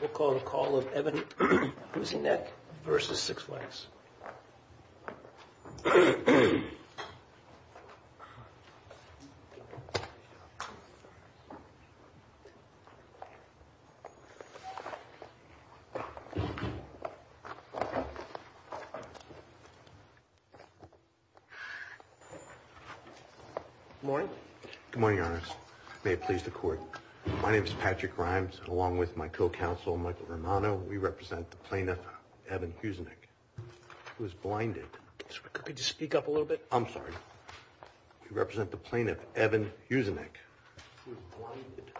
We'll call the call of Evan Huzinec v. Six Flags. Good morning. Good morning, Your Honor. May it please the court. My name is Patrick Rimes, along with my co-counsel, Michael Romano. We represent the plaintiff, Evan Huzinec, who is blinded. Could you speak up a little bit? I'm sorry. We represent the plaintiff, Evan Huzinec, who is blinded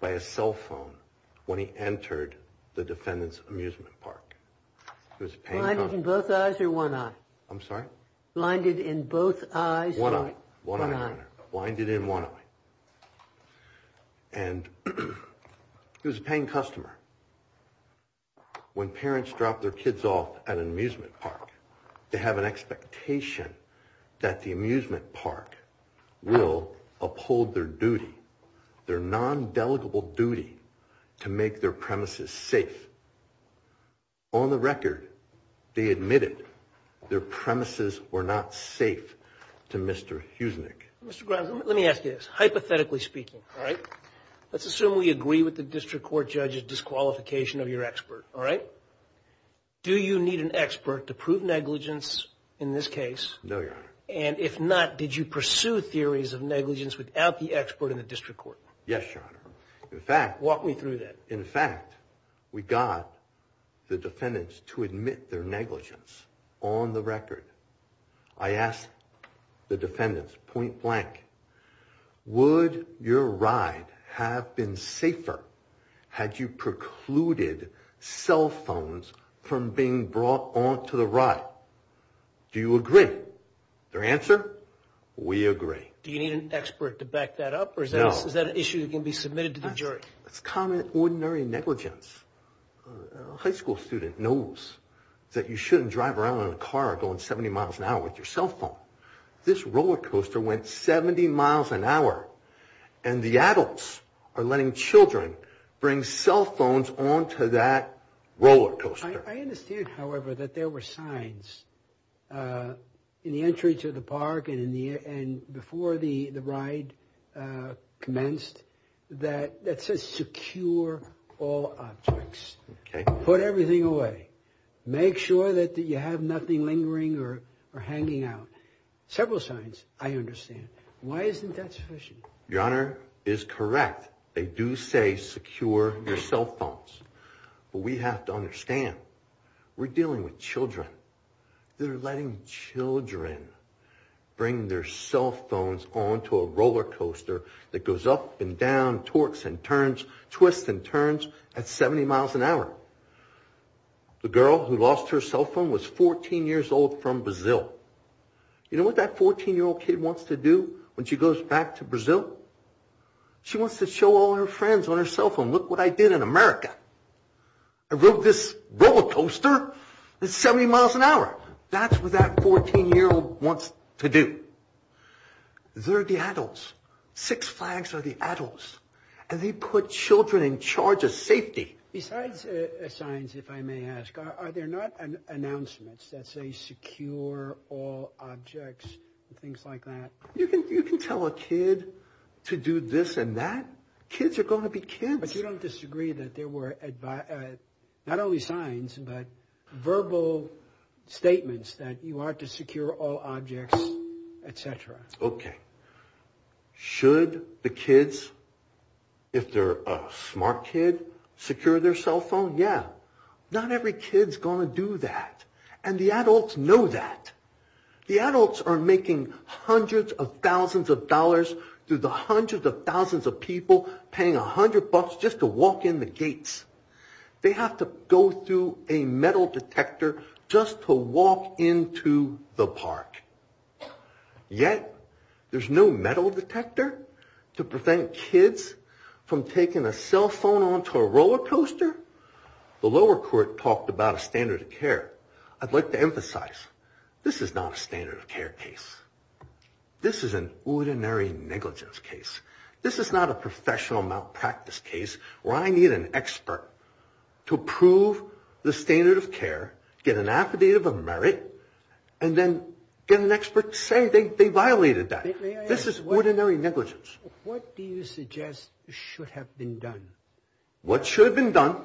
by a cell phone when he entered the defendant's amusement park. Blinded in both eyes or one eye? I'm sorry? Blinded in both eyes or one eye? One eye. Blinded in one eye. And he was a paying customer. When parents drop their kids off at an amusement park, they have an expectation that the amusement park will uphold their duty, their non-delegable duty to make their premises safe. On the record, they admitted their premises were not safe to Mr. Huzinec. Mr. Grimes, let me ask you this. Hypothetically speaking, all right, let's assume we agree with the district court judge's disqualification of your expert, all right? Do you need an expert to prove negligence in this case? No, Your Honor. And if not, did you pursue theories of negligence without the expert in the district court? Yes, Your Honor. Walk me through that. In fact, we got the defendants to admit their negligence on the record. I asked the defendants point blank, would your ride have been safer had you precluded cell phones from being brought onto the ride? Do you agree? Their answer, we agree. Do you need an expert to back that up? No. Or is that an issue that can be submitted to the jury? It's common, ordinary negligence. A high school student knows that you shouldn't drive around in a car going 70 miles an hour with your cell phone. This roller coaster went 70 miles an hour, and the adults are letting children bring cell phones onto that roller coaster. I understand, however, that there were signs in the entry to the park and before the ride commenced that says secure all objects. Put everything away. Make sure that you have nothing lingering or hanging out. Several signs, I understand. Why isn't that sufficient? Your Honor is correct. They do say secure your cell phones. But we have to understand, we're dealing with children. They're letting children bring their cell phones onto a roller coaster that goes up and down, torques and turns, twists and turns at 70 miles an hour. The girl who lost her cell phone was 14 years old from Brazil. You know what that 14-year-old kid wants to do when she goes back to Brazil? She wants to show all her friends on her cell phone, look what I did in America. I rode this roller coaster that's 70 miles an hour. That's what that 14-year-old wants to do. They're the adults. Six flags are the adults. And they put children in charge of safety. Besides signs, if I may ask, are there not announcements that say secure all objects and things like that? You can tell a kid to do this and that. Kids are going to be kids. But you don't disagree that there were not only signs, but verbal statements that you are to secure all objects, etc. Okay. Should the kids, if they're a smart kid, secure their cell phone? Yeah. Not every kid's going to do that. And the adults know that. The adults are making hundreds of thousands of dollars through the hundreds of thousands of people paying a hundred bucks just to walk in the gates. They have to go through a metal detector just to walk into the park. Yet, there's no metal detector to prevent kids from taking a cell phone onto a roller coaster? The lower court talked about a standard of care. I'd like to emphasize, this is not a standard of care case. This is an ordinary negligence case. This is not a professional malpractice case where I need an expert to prove the standard of care, get an affidavit of merit, and then get an expert to say they violated that. This is ordinary negligence. What do you suggest should have been done? What should have been done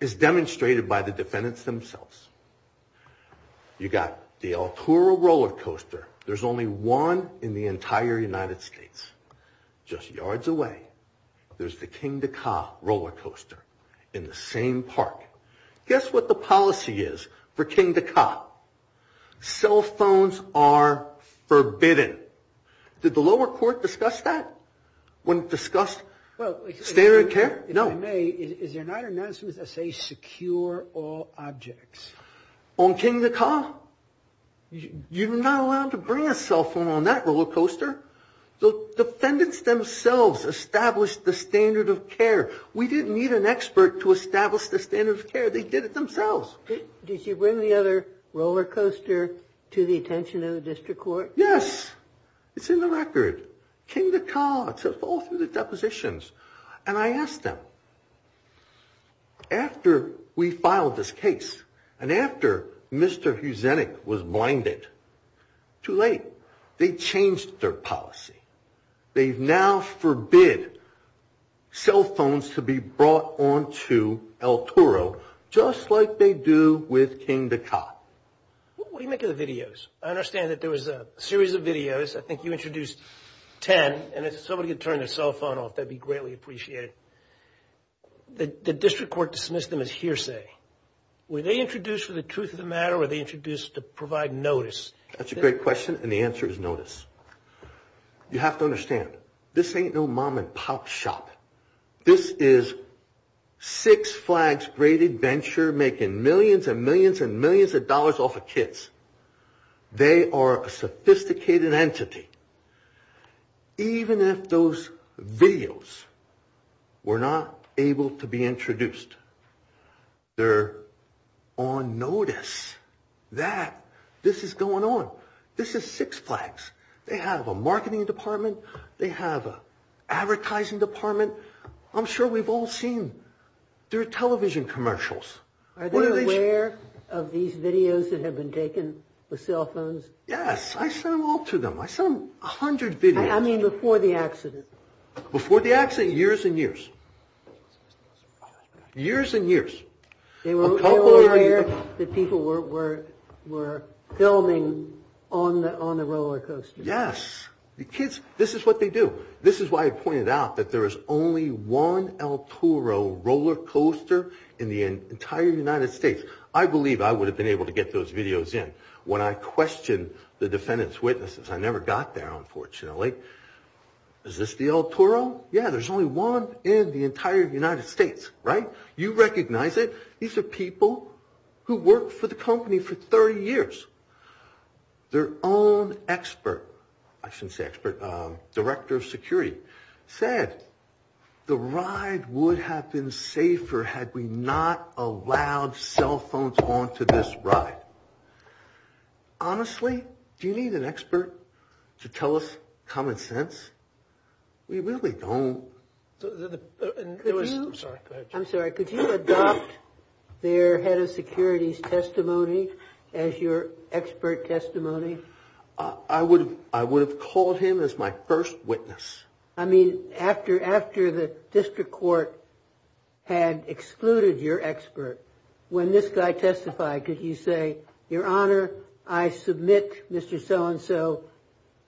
is demonstrated by the defendants themselves. You got the El Toro roller coaster. There's only one in the entire United States. Just yards away, there's the Kingda Ka roller coaster in the same park. Guess what the policy is for Kingda Ka? Cell phones are forbidden. Did the lower court discuss that when it discussed standard of care? If I may, is there not an announcement that says secure all objects? On Kingda Ka? You're not allowed to bring a cell phone on that roller coaster. The defendants themselves established the standard of care. We didn't need an expert to establish the standard of care. They did it themselves. Did you bring the other roller coaster to the attention of the district court? Yes. It's in the record. Kingda Ka, it's all through the depositions. And I asked them, after we filed this case and after Mr. Huzinik was blinded, too late. They changed their policy. They now forbid cell phones to be brought on to El Toro just like they do with Kingda Ka. What do you make of the videos? I understand that there was a series of videos. I think you introduced 10. And if somebody could turn their cell phone off, that would be greatly appreciated. The district court dismissed them as hearsay. Were they introduced for the truth of the matter or were they introduced to provide notice? That's a great question, and the answer is notice. You have to understand, this ain't no mom and pop shop. This is Six Flags Great Adventure making millions and millions and millions of dollars off of kids. They are a sophisticated entity. Even if those videos were not able to be introduced, they're on notice that this is going on. This is Six Flags. They have a marketing department. They have an advertising department. I'm sure we've all seen their television commercials. Are they aware of these videos that have been taken with cell phones? Yes. I sent them all to them. I sent them 100 videos. I mean before the accident. Before the accident, years and years. Years and years. They were aware that people were filming on the roller coaster. Yes. The kids, this is what they do. This is why I pointed out that there is only one El Toro roller coaster in the entire United States. I believe I would have been able to get those videos in when I questioned the defendant's witnesses. I never got there, unfortunately. Is this the El Toro? Yes. There's only one in the entire United States. You recognize it. These are people who worked for the company for 30 years. Their own expert, I shouldn't say expert, Director of Security, said the ride would have been safer had we not allowed cell phones onto this ride. Honestly, do you need an expert to tell us common sense? We really don't. I'm sorry, go ahead. I'm sorry. Could you adopt their head of security's testimony as your expert testimony? I would have called him as my first witness. I mean after the district court had excluded your expert, when this guy testified, could you say, Your Honor, I submit Mr. So-and-so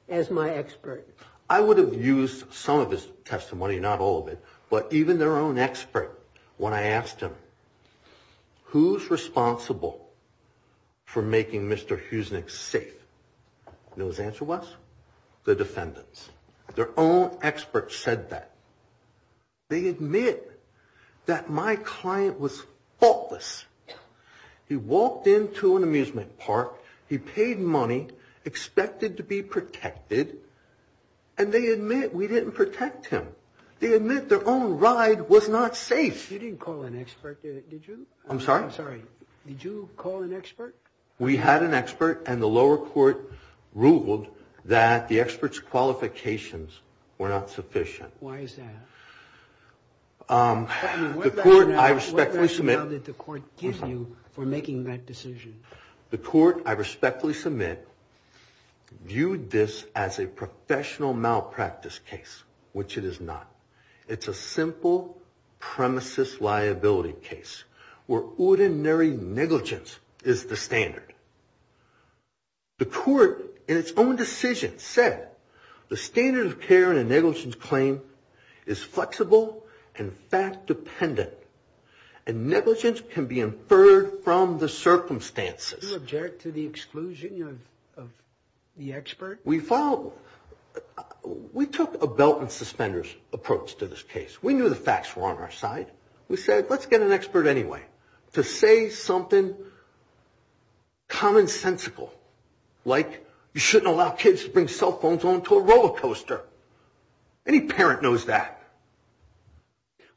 as my expert? I would have used some of his testimony, not all of it, but even their own expert when I asked him, Who's responsible for making Mr. Huesnick safe? And his answer was, the defendants. Their own expert said that. They admit that my client was faultless. He walked into an amusement park, he paid money, expected to be protected, and they admit we didn't protect him. They admit their own ride was not safe. You didn't call an expert, did you? I'm sorry? I'm sorry. Did you call an expert? We had an expert, and the lower court ruled that the expert's qualifications were not sufficient. Why is that? The court, I respectfully submit. What rationale did the court give you for making that decision? The court, I respectfully submit, viewed this as a professional malpractice case, which it is not. It's a simple premises liability case, where ordinary negligence is the standard. The court, in its own decision, said, The standard of care in a negligence claim is flexible and fact-dependent, and negligence can be inferred from the circumstances. Do you object to the exclusion of the expert? We follow. We took a belt and suspenders approach to this case. We knew the facts were on our side. We said, let's get an expert anyway to say something commonsensical, like you shouldn't allow kids to bring cell phones onto a roller coaster. Any parent knows that.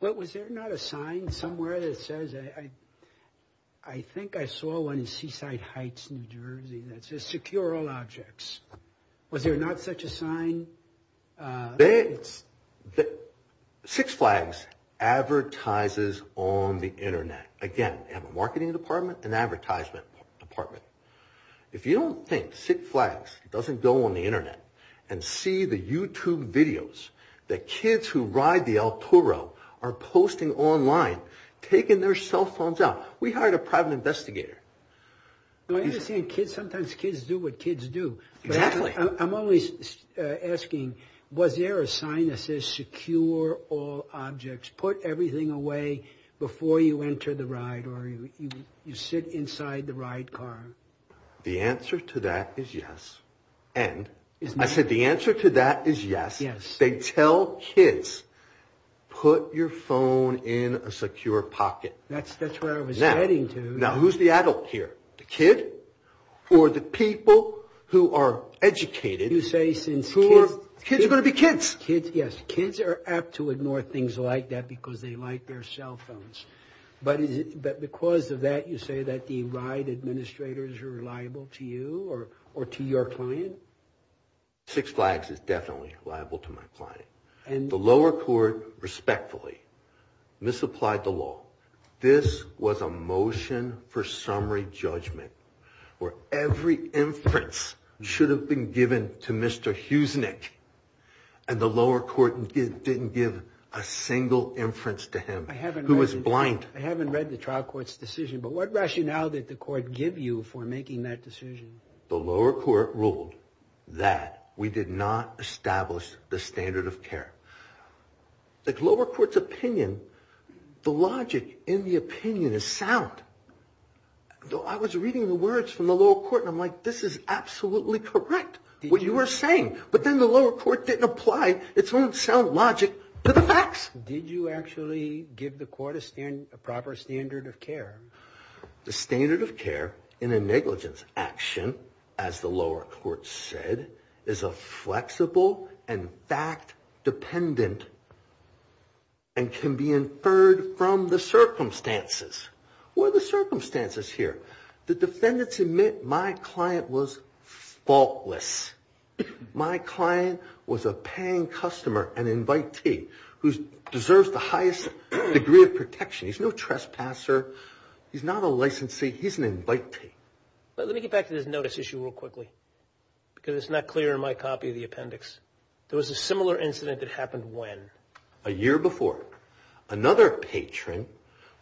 Was there not a sign somewhere that says, I think I saw one in Seaside Heights, New Jersey, that says secure all objects. Was there not such a sign? Six Flags advertises on the Internet. Again, we have a marketing department, an advertisement department. If you don't think Six Flags doesn't go on the Internet and see the YouTube videos that kids who ride the El Toro are posting online, taking their cell phones out. We hired a private investigator. I understand sometimes kids do what kids do. Exactly. I'm always asking, was there a sign that says secure all objects, put everything away before you enter the ride or you sit inside the ride car? The answer to that is yes. And I said the answer to that is yes. They tell kids, put your phone in a secure pocket. That's where I was heading to. Now, who's the adult here, the kid or the people who are educated? You say since kids. Kids are going to be kids. Yes, kids are apt to ignore things like that because they like their cell phones. But because of that, you say that the ride administrators are reliable to you or to your client? Six Flags is definitely reliable to my client. The lower court respectfully misapplied the law. This was a motion for summary judgment where every inference should have been given to Mr. Huesnick and the lower court didn't give a single inference to him who was blind. I haven't read the trial court's decision, but what rationale did the court give you for making that decision? The lower court ruled that we did not establish the standard of care. The lower court's opinion, the logic in the opinion is sound. I was reading the words from the lower court and I'm like, this is absolutely correct, what you are saying. Did you actually give the court a proper standard of care? The standard of care in a negligence action, as the lower court said, is a flexible and fact-dependent and can be inferred from the circumstances. What are the circumstances here? The defendants admit my client was faultless. My client was a paying customer, an invitee, who deserves the highest degree of protection. He's no trespasser. He's not a licensee. He's an invitee. Let me get back to this notice issue real quickly because it's not clear in my copy of the appendix. There was a similar incident that happened when? A year before. Another patron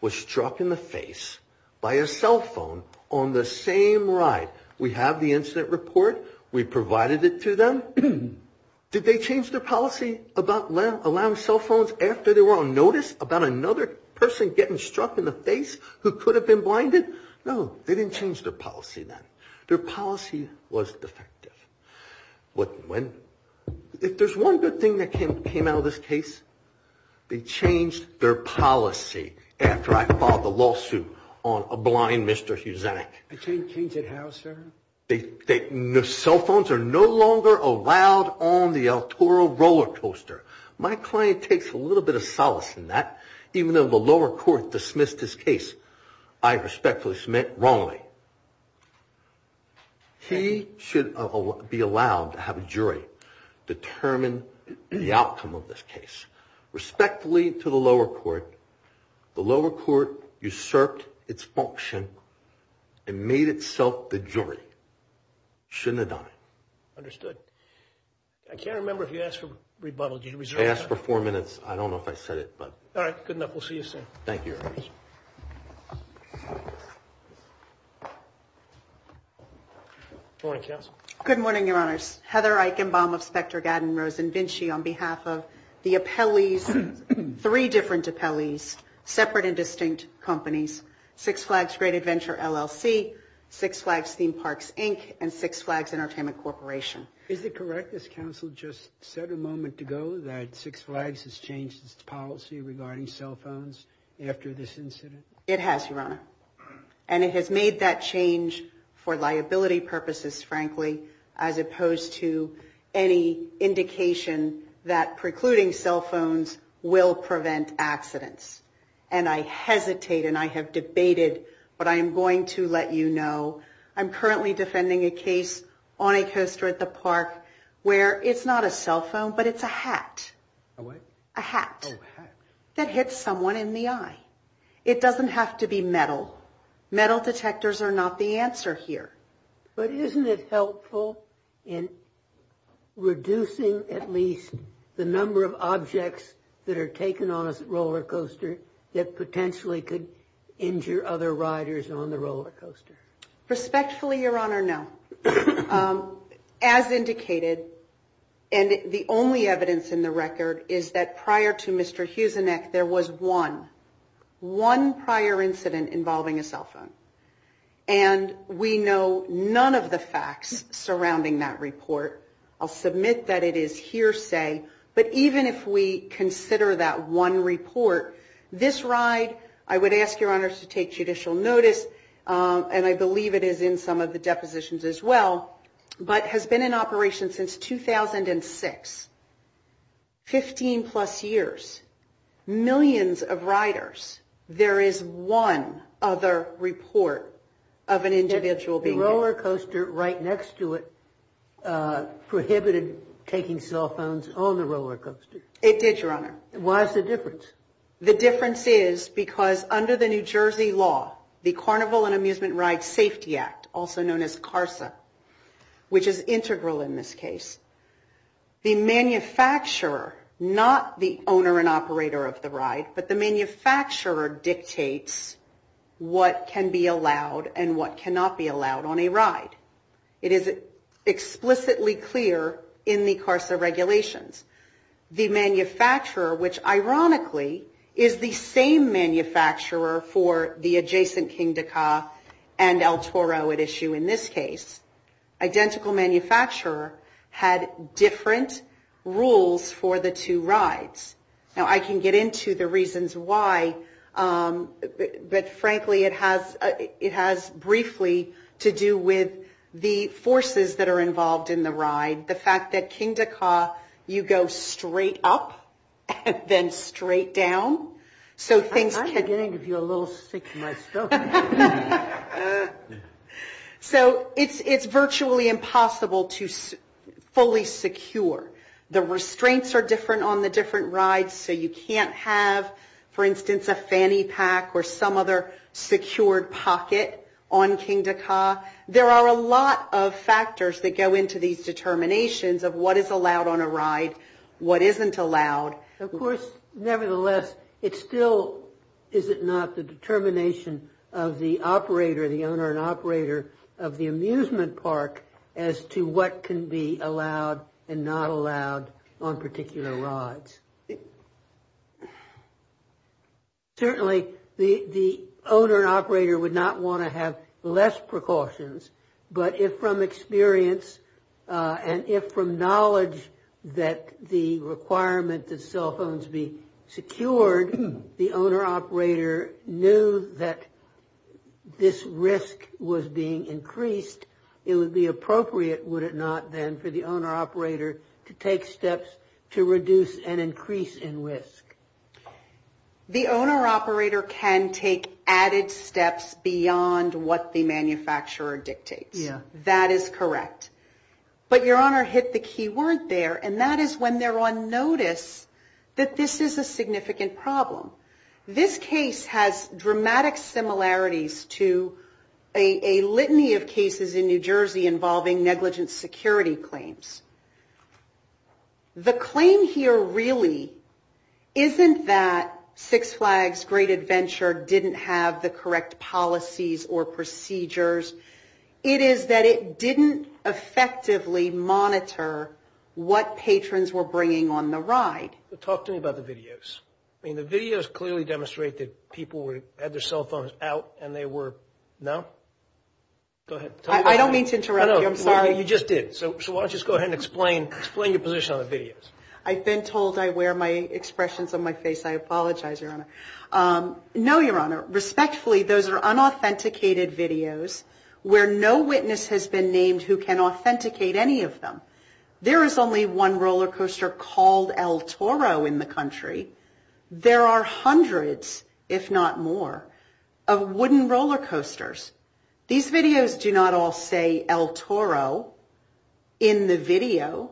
was struck in the face by a cell phone on the same ride. We have the incident report. We provided it to them. Did they change their policy about allowing cell phones after they were on notice about another person getting struck in the face who could have been blinded? No, they didn't change their policy then. Their policy was defective. If there's one good thing that came out of this case, they changed their policy after I filed the lawsuit on a blind Mr. Huzanek. They changed it how, sir? Cell phones are no longer allowed on the El Toro roller coaster. My client takes a little bit of solace in that. Even though the lower court dismissed his case, I respectfully submit, wrongly. He should be allowed to have a jury determine the outcome of this case. Respectfully to the lower court, the lower court usurped its function and made itself the jury. It shouldn't have done it. Understood. I can't remember if you asked for rebuttal. I asked for four minutes. I don't know if I said it. All right. Good enough. We'll see you soon. Thank you. Good morning, counsel. Good morning, Your Honors. Heather Eichenbaum of Specter Gatton Rosen Vinci on behalf of the appellees, three different appellees, separate and distinct companies, Six Flags Great Adventure LLC, Six Flags Theme Parks, Inc., and Six Flags Entertainment Corporation. Is it correct, as counsel just said a moment ago, that Six Flags has changed its policy regarding cell phones after this incident? It has, Your Honor. And it has made that change for liability purposes, frankly, as opposed to any indication that precluding cell phones will prevent accidents. And I hesitate and I have debated, but I am going to let you know, I'm currently defending a case on a coaster at the park where it's not a cell phone, but it's a hat. A what? A hat. Oh, a hat. That hits someone in the eye. It doesn't have to be metal. Metal detectors are not the answer here. But isn't it helpful in reducing, at least, the number of objects that are taken on a roller coaster that potentially could injure other riders on the roller coaster? Respectfully, Your Honor, no. As indicated, and the only evidence in the record, is that prior to Mr. Huzinec there was one, one prior incident involving a cell phone. And we know none of the facts surrounding that report. I'll submit that it is hearsay. But even if we consider that one report, this ride, I would ask Your Honor to take judicial notice, and I believe it is in some of the depositions as well, but has been in operation since 2006. Fifteen plus years. Millions of riders. There is one other report of an individual being hit. The roller coaster right next to it prohibited taking cell phones on the roller coaster. It did, Your Honor. Why is the difference? The difference is because under the New Jersey law, the Carnival and Amusement Ride Safety Act, also known as CARSA, which is integral in this case, the manufacturer, not the owner and operator of the ride, but the manufacturer dictates what can be allowed and what cannot be allowed on a ride. It is explicitly clear in the CARSA regulations. The manufacturer, which ironically is the same manufacturer for the adjacent Kingda Ka and El Toro at issue in this case, identical manufacturer had different rules for the two rides. Now I can get into the reasons why, but frankly it has briefly to do with the forces that are involved in the ride. The fact that Kingda Ka you go straight up and then straight down. I'm getting a little sick of myself. So it's virtually impossible to fully secure. The restraints are different on the different rides, so you can't have, for instance, a fanny pack or some other secured pocket on Kingda Ka. There are a lot of factors that go into these determinations of what is allowed on a ride, what isn't allowed. Of course, nevertheless, it still is it not the determination of the operator, the owner and operator of the amusement park as to what can be allowed and not allowed on particular rides. Certainly the owner and operator would not want to have less precautions, but if from experience and if from knowledge that the requirement that cell phones be secured, the owner-operator knew that this risk was being increased, it would be appropriate, would it not, then, for the owner-operator to take steps to reduce and increase in risk? The owner-operator can take added steps beyond what the manufacturer dictates. That is correct. But Your Honor hit the key word there, and that is when they're on notice that this is a significant problem. This case has dramatic similarities to a litany of cases in New Jersey involving negligent security claims. The claim here really isn't that Six Flags Great Adventure didn't have the correct policies or procedures. It is that it didn't effectively monitor what patrons were bringing on the ride. Talk to me about the videos. I mean, the videos clearly demonstrate that people had their cell phones out, and they were, no? Go ahead. I don't mean to interrupt you. I'm sorry. You just did. So why don't you just go ahead and explain your position on the videos. I've been told I wear my expressions on my face. I apologize, Your Honor. No, Your Honor. Respectfully, those are unauthenticated videos where no witness has been named who can authenticate any of them. There is only one roller coaster called El Toro in the country. There are hundreds, if not more, of wooden roller coasters. These videos do not all say El Toro in the video.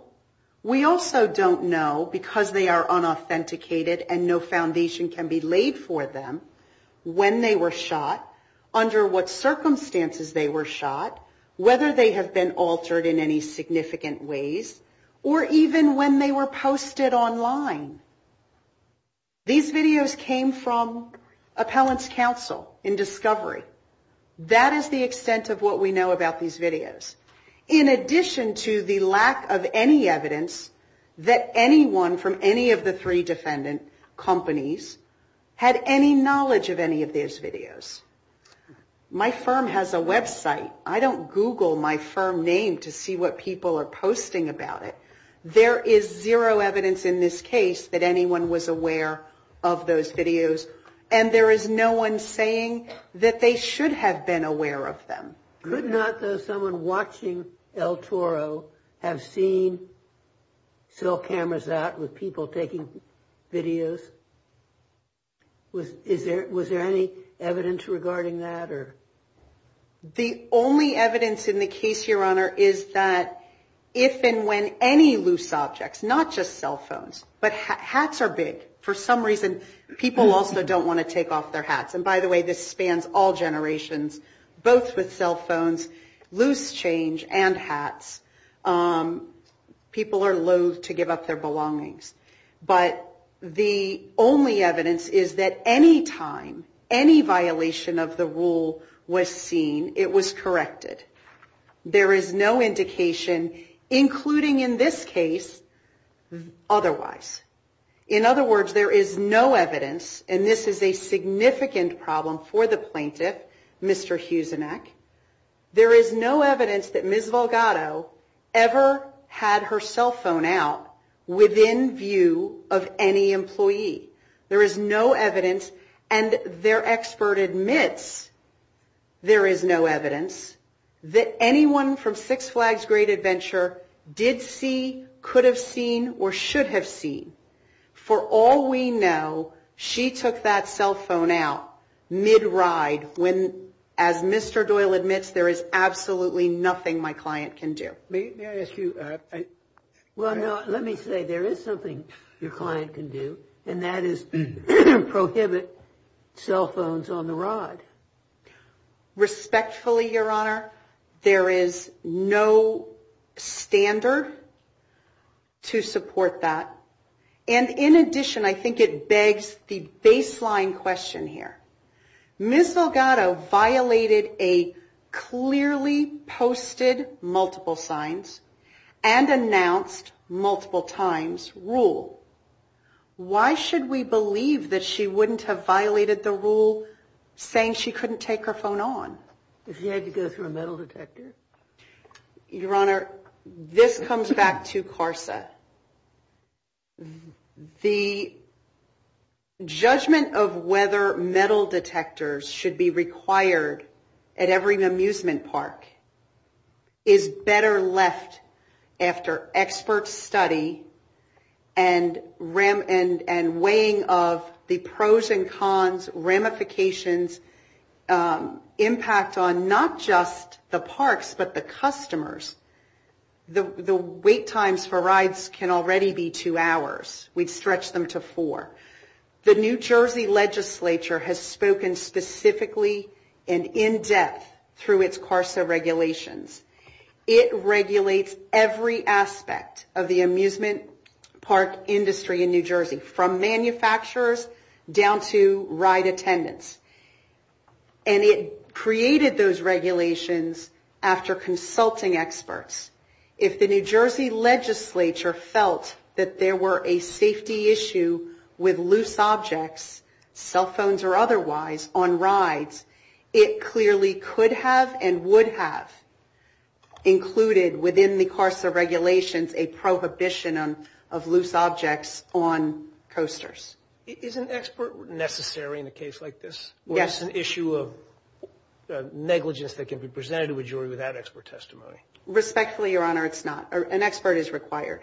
We also don't know, because they are unauthenticated and no foundation can be laid for them, when they were shot, under what circumstances they were shot, whether they have been altered in any significant ways, or even when they were posted online. These videos came from appellants' counsel in discovery. That is the extent of what we know about these videos. In addition to the lack of any evidence that anyone from any of the three defendants and companies had any knowledge of any of these videos. My firm has a website. I don't Google my firm name to see what people are posting about it. There is zero evidence in this case that anyone was aware of those videos, and there is no one saying that they should have been aware of them. Could not, though, someone watching El Toro have seen cell cameras out with people taking videos? Was there any evidence regarding that? The only evidence in the case, Your Honor, is that if and when any loose objects, not just cell phones, but hats are big. For some reason, people also don't want to take off their hats. By the way, this spans all generations, both with cell phones, loose change, and hats. People are loath to give up their belongings. But the only evidence is that any time any violation of the rule was seen, it was corrected. There is no indication, including in this case, otherwise. In other words, there is no evidence, and this is a significant problem for the plaintiff, Mr. Huzinek, there is no evidence that Ms. Valgado ever had her cell phone out within view of any employee. There is no evidence, and their expert admits there is no evidence, that anyone from Six Flags Great Adventure did see, could have seen, or should have seen. For all we know, she took that cell phone out mid-ride when, as Mr. Doyle admits, there is absolutely nothing my client can do. May I ask you... Well, no, let me say, there is something your client can do, and that is prohibit cell phones on the rod. Respectfully, Your Honor, there is no standard to support that. And in addition, I think it begs the baseline question here. Ms. Valgado violated a clearly posted multiple signs and announced multiple times rule. Why should we believe that she wouldn't have violated the rule saying she couldn't take her phone on? If she had to go through a metal detector. Your Honor, this comes back to CARSA. The judgment of whether metal detectors should be required at every amusement park is better left after expert study and weighing of the pros and cons, ramifications, impact on not just the parks, but the customers. The wait times for rides can already be two hours. We'd stretch them to four. The New Jersey legislature has spoken specifically and in depth through its CARSA regulations. It regulates every aspect of the amusement park industry in New Jersey, from manufacturers down to ride attendants. And it created those regulations after consulting experts. If the New Jersey legislature felt that there were a safety issue with loose objects, cell phones or otherwise, on rides, it clearly could have and would have included within the CARSA regulations a prohibition of loose objects on coasters. Is an expert necessary in a case like this? Yes. Or is this an issue of negligence that can be presented to a jury without expert testimony? Respectfully, Your Honor, it's not. An expert is required.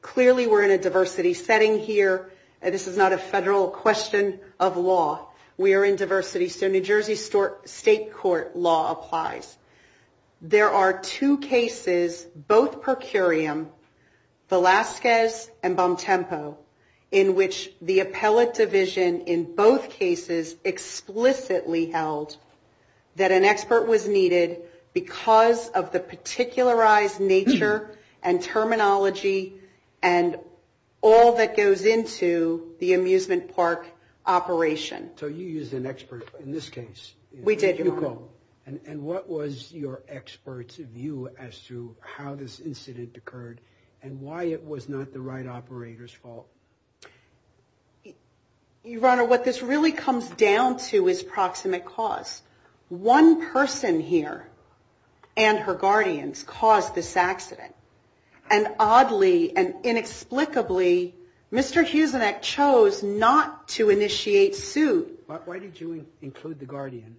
Clearly we're in a diversity setting here. This is not a federal question of law. We are in diversity. So New Jersey state court law applies. There are two cases, both per curiam, Velazquez and Bom Tempo, in which the appellate division in both cases explicitly held that an expert was needed because of the particularized nature and terminology and all that goes into the amusement park operation. So you used an expert in this case. We did, Your Honor. And what was your expert's view as to how this incident occurred and why it was not the ride operator's fault? Your Honor, what this really comes down to is proximate cause. One person here and her guardians caused this accident. And oddly and inexplicably, Mr. Huzinek chose not to initiate suit. Why did you include the guardian?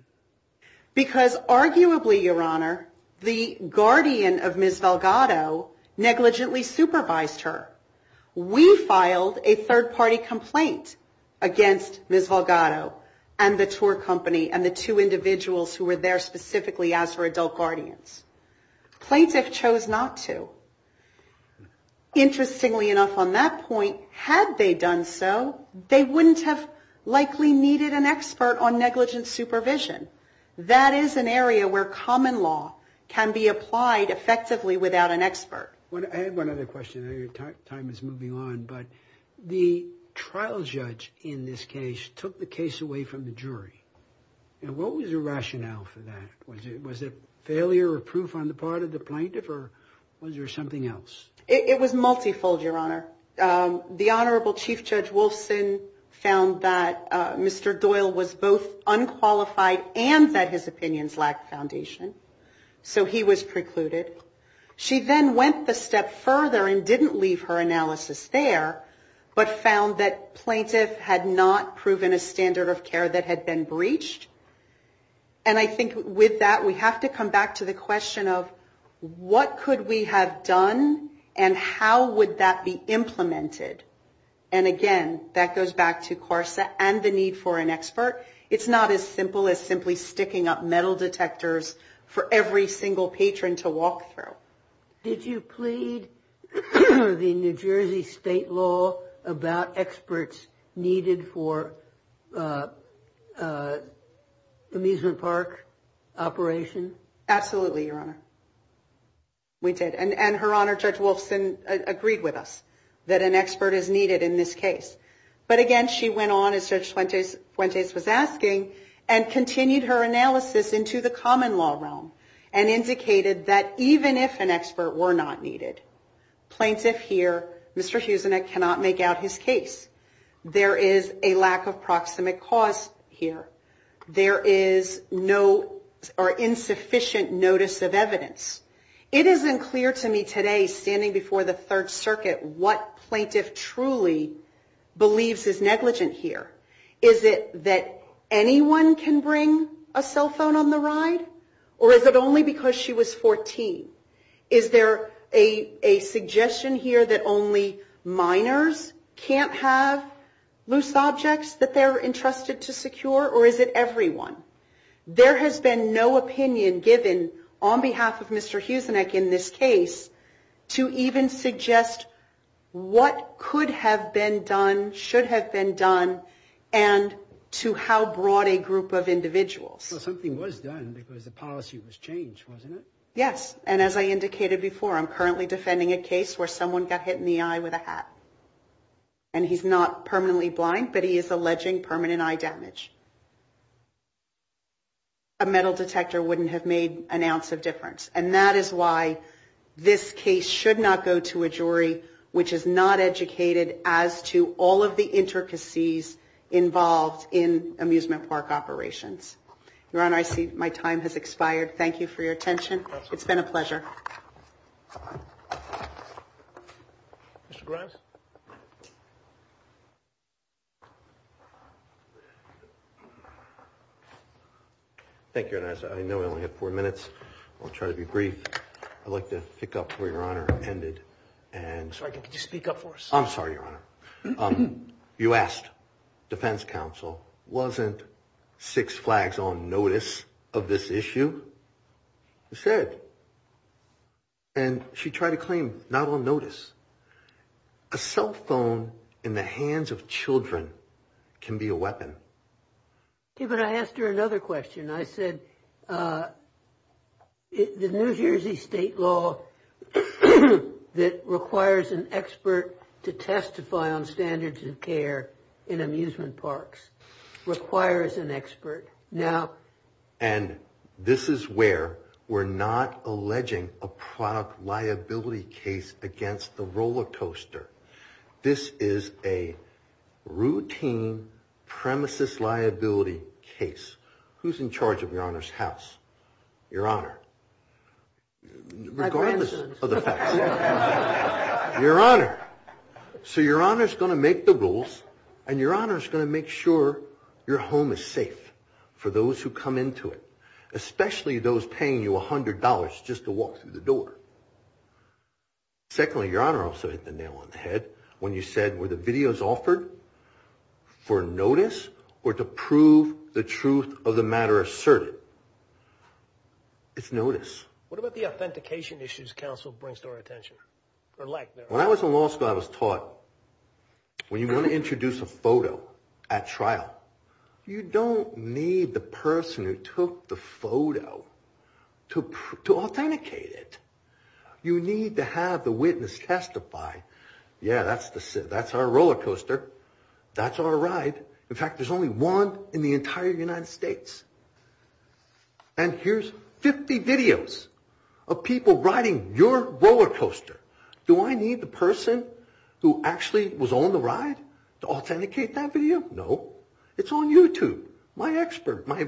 Because arguably, Your Honor, the guardian of Ms. Valgado negligently supervised her. We filed a third-party complaint against Ms. Valgado and the tour company and the two individuals who were there specifically as her adult guardians. Plaintiff chose not to. Interestingly enough, on that point, had they done so, they wouldn't have likely needed an expert on negligent supervision. That is an area where common law can be applied effectively without an expert. I have one other question. I know your time is moving on. But the trial judge in this case took the case away from the jury. And what was the rationale for that? Was it failure of proof on the part of the plaintiff or was there something else? It was multifold, Your Honor. The Honorable Chief Judge Wolfson found that Mr. Doyle was both unqualified and that his opinions lacked foundation. So he was precluded. She then went the step further and didn't leave her analysis there, but found that plaintiff had not proven a standard of care that had been breached. And I think with that, we have to come back to the question of what could we have done and how would that be implemented? And again, that goes back to CARSA and the need for an expert. It's not as simple as simply sticking up metal detectors for every single patron to walk through. Did you plead with the New Jersey state law about experts needed for amusement park operation? Absolutely, Your Honor. We did. And Her Honor, Judge Wolfson, agreed with us that an expert is needed in this case. But again, she went on, as Judge Fuentes was asking, and continued her analysis into the common law realm and indicated that even if an expert were not needed, plaintiff here, Mr. Huzinek, cannot make out his case. There is a lack of proximate cause here. There is insufficient notice of evidence. It isn't clear to me today, standing before the Third Circuit, what plaintiff truly believes is negligent here. Is it that anyone can bring a cell phone on the ride? Or is it only because she was 14? Is there a suggestion here that only minors can't have loose objects that they're entrusted to secure? Or is it everyone? There has been no opinion given on behalf of Mr. Huzinek in this case to even suggest what could have been done, should have been done, and to how broad a group of individuals. Well, something was done because the policy was changed, wasn't it? Yes. And as I indicated before, I'm currently defending a case where someone got hit in the eye with a hat. And he's not permanently blind, but he is alleging permanent eye damage. A metal detector wouldn't have made an ounce of difference. And that is why this case should not go to a jury which is not educated as to all of the intricacies involved in amusement park operations. Your Honor, I see my time has expired. Thank you for your attention. It's been a pleasure. Mr. Grimes? Thank you, Your Honor. I know I only have four minutes. I'll try to be brief. I'd like to pick up where Your Honor ended. Could you speak up for us? I'm sorry, Your Honor. You asked defense counsel, wasn't Six Flags on notice of this issue? I said. And she tried to claim not on notice. A cell phone in the hands of children can be a weapon. Okay, but I asked her another question. I said, the New Jersey state law that requires an expert to testify on standards of care in amusement parks requires an expert. And this is where we're not alleging a product liability case against the roller coaster. This is a routine premises liability case. Who's in charge of Your Honor's house? Your Honor. My grandson. Regardless of the facts. Your Honor. So Your Honor's going to make the rules, and Your Honor's going to make sure your home is safe for those who come into it, especially those paying you $100 just to walk through the door. Secondly, Your Honor also hit the nail on the head when you said, were the videos offered for notice or to prove the truth of the matter asserted? It's notice. What about the authentication issues counsel brings to our attention? When I was in law school, I was taught, when you want to introduce a photo at trial, you don't need the person who took the photo to authenticate it. You need to have the witness testify. Yeah, that's our roller coaster. That's our ride. In fact, there's only one in the entire United States. And here's 50 videos of people riding your roller coaster. Do I need the person who actually was on the ride to authenticate that video? No. It's on YouTube. My expert, my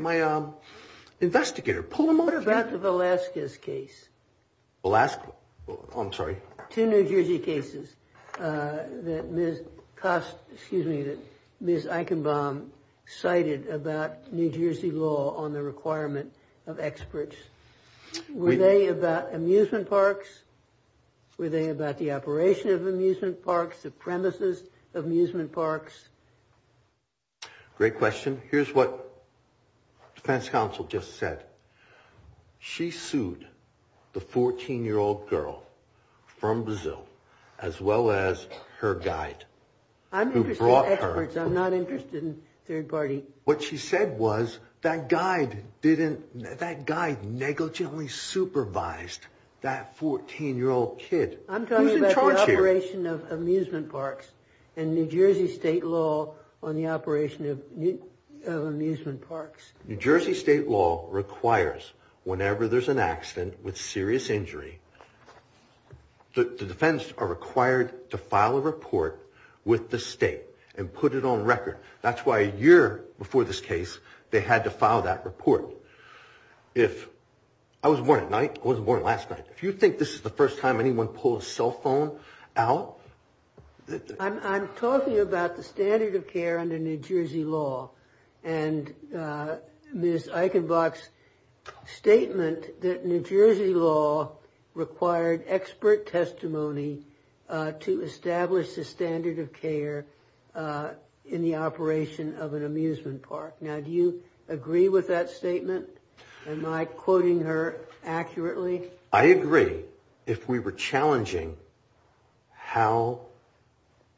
investigator. What about the Velasquez case? Velasquez? I'm sorry. Two New Jersey cases that Ms. Eichenbaum cited about New Jersey law on the requirement of experts. Were they about amusement parks? Were they about the operation of amusement parks, the premises of amusement parks? Great question. Here's what defense counsel just said. She sued the 14-year-old girl from Brazil, as well as her guide. I'm interested in experts. I'm not interested in third party. What she said was that guide didn't, that guide negligently supervised that 14-year-old kid. I'm talking about the operation of amusement parks and New Jersey state law on the operation of amusement parks. New Jersey state law requires, whenever there's an accident with serious injury, the defense are required to file a report with the state and put it on record. That's why a year before this case, they had to file that report. If, I was born at night. I wasn't born last night. If you think this is the first time anyone pulled a cell phone out. I'm talking about the standard of care under New Jersey law. And Ms. Eichenbach's statement that New Jersey law required expert testimony to establish the standard of care in the operation of an amusement park. Now, do you agree with that statement? Am I quoting her accurately? I agree. If we were challenging how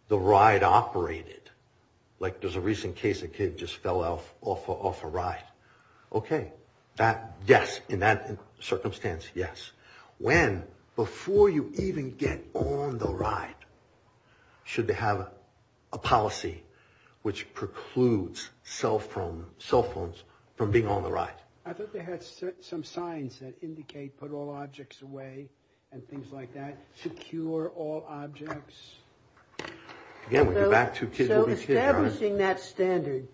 the ride operated. Like there's a recent case, a kid just fell off a ride. Okay. That, yes. In that circumstance, yes. When, before you even get on the ride, should they have a policy which precludes cell phones from being on the ride? I thought they had some signs that indicate put all objects away and things like that. Secure all objects. So establishing that standard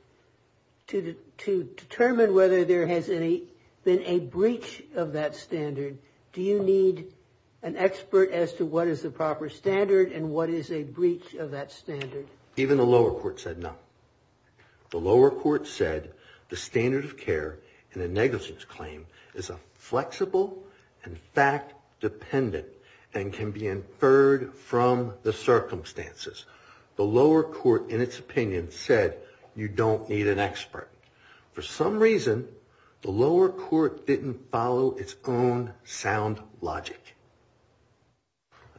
to determine whether there has been a breach of that standard. Do you need an expert as to what is the proper standard and what is a breach of that standard? Even the lower court said no. The lower court said the standard of care in a negligence claim is a flexible and fact dependent and can be inferred from the circumstances. The lower court, in its opinion, said you don't need an expert. For some reason, the lower court didn't follow its own sound logic.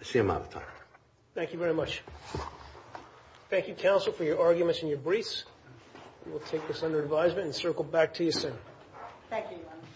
I see I'm out of time. Thank you very much. Thank you, counsel, for your arguments and your briefs. We'll take this under advisement and circle back to you soon. Thank you.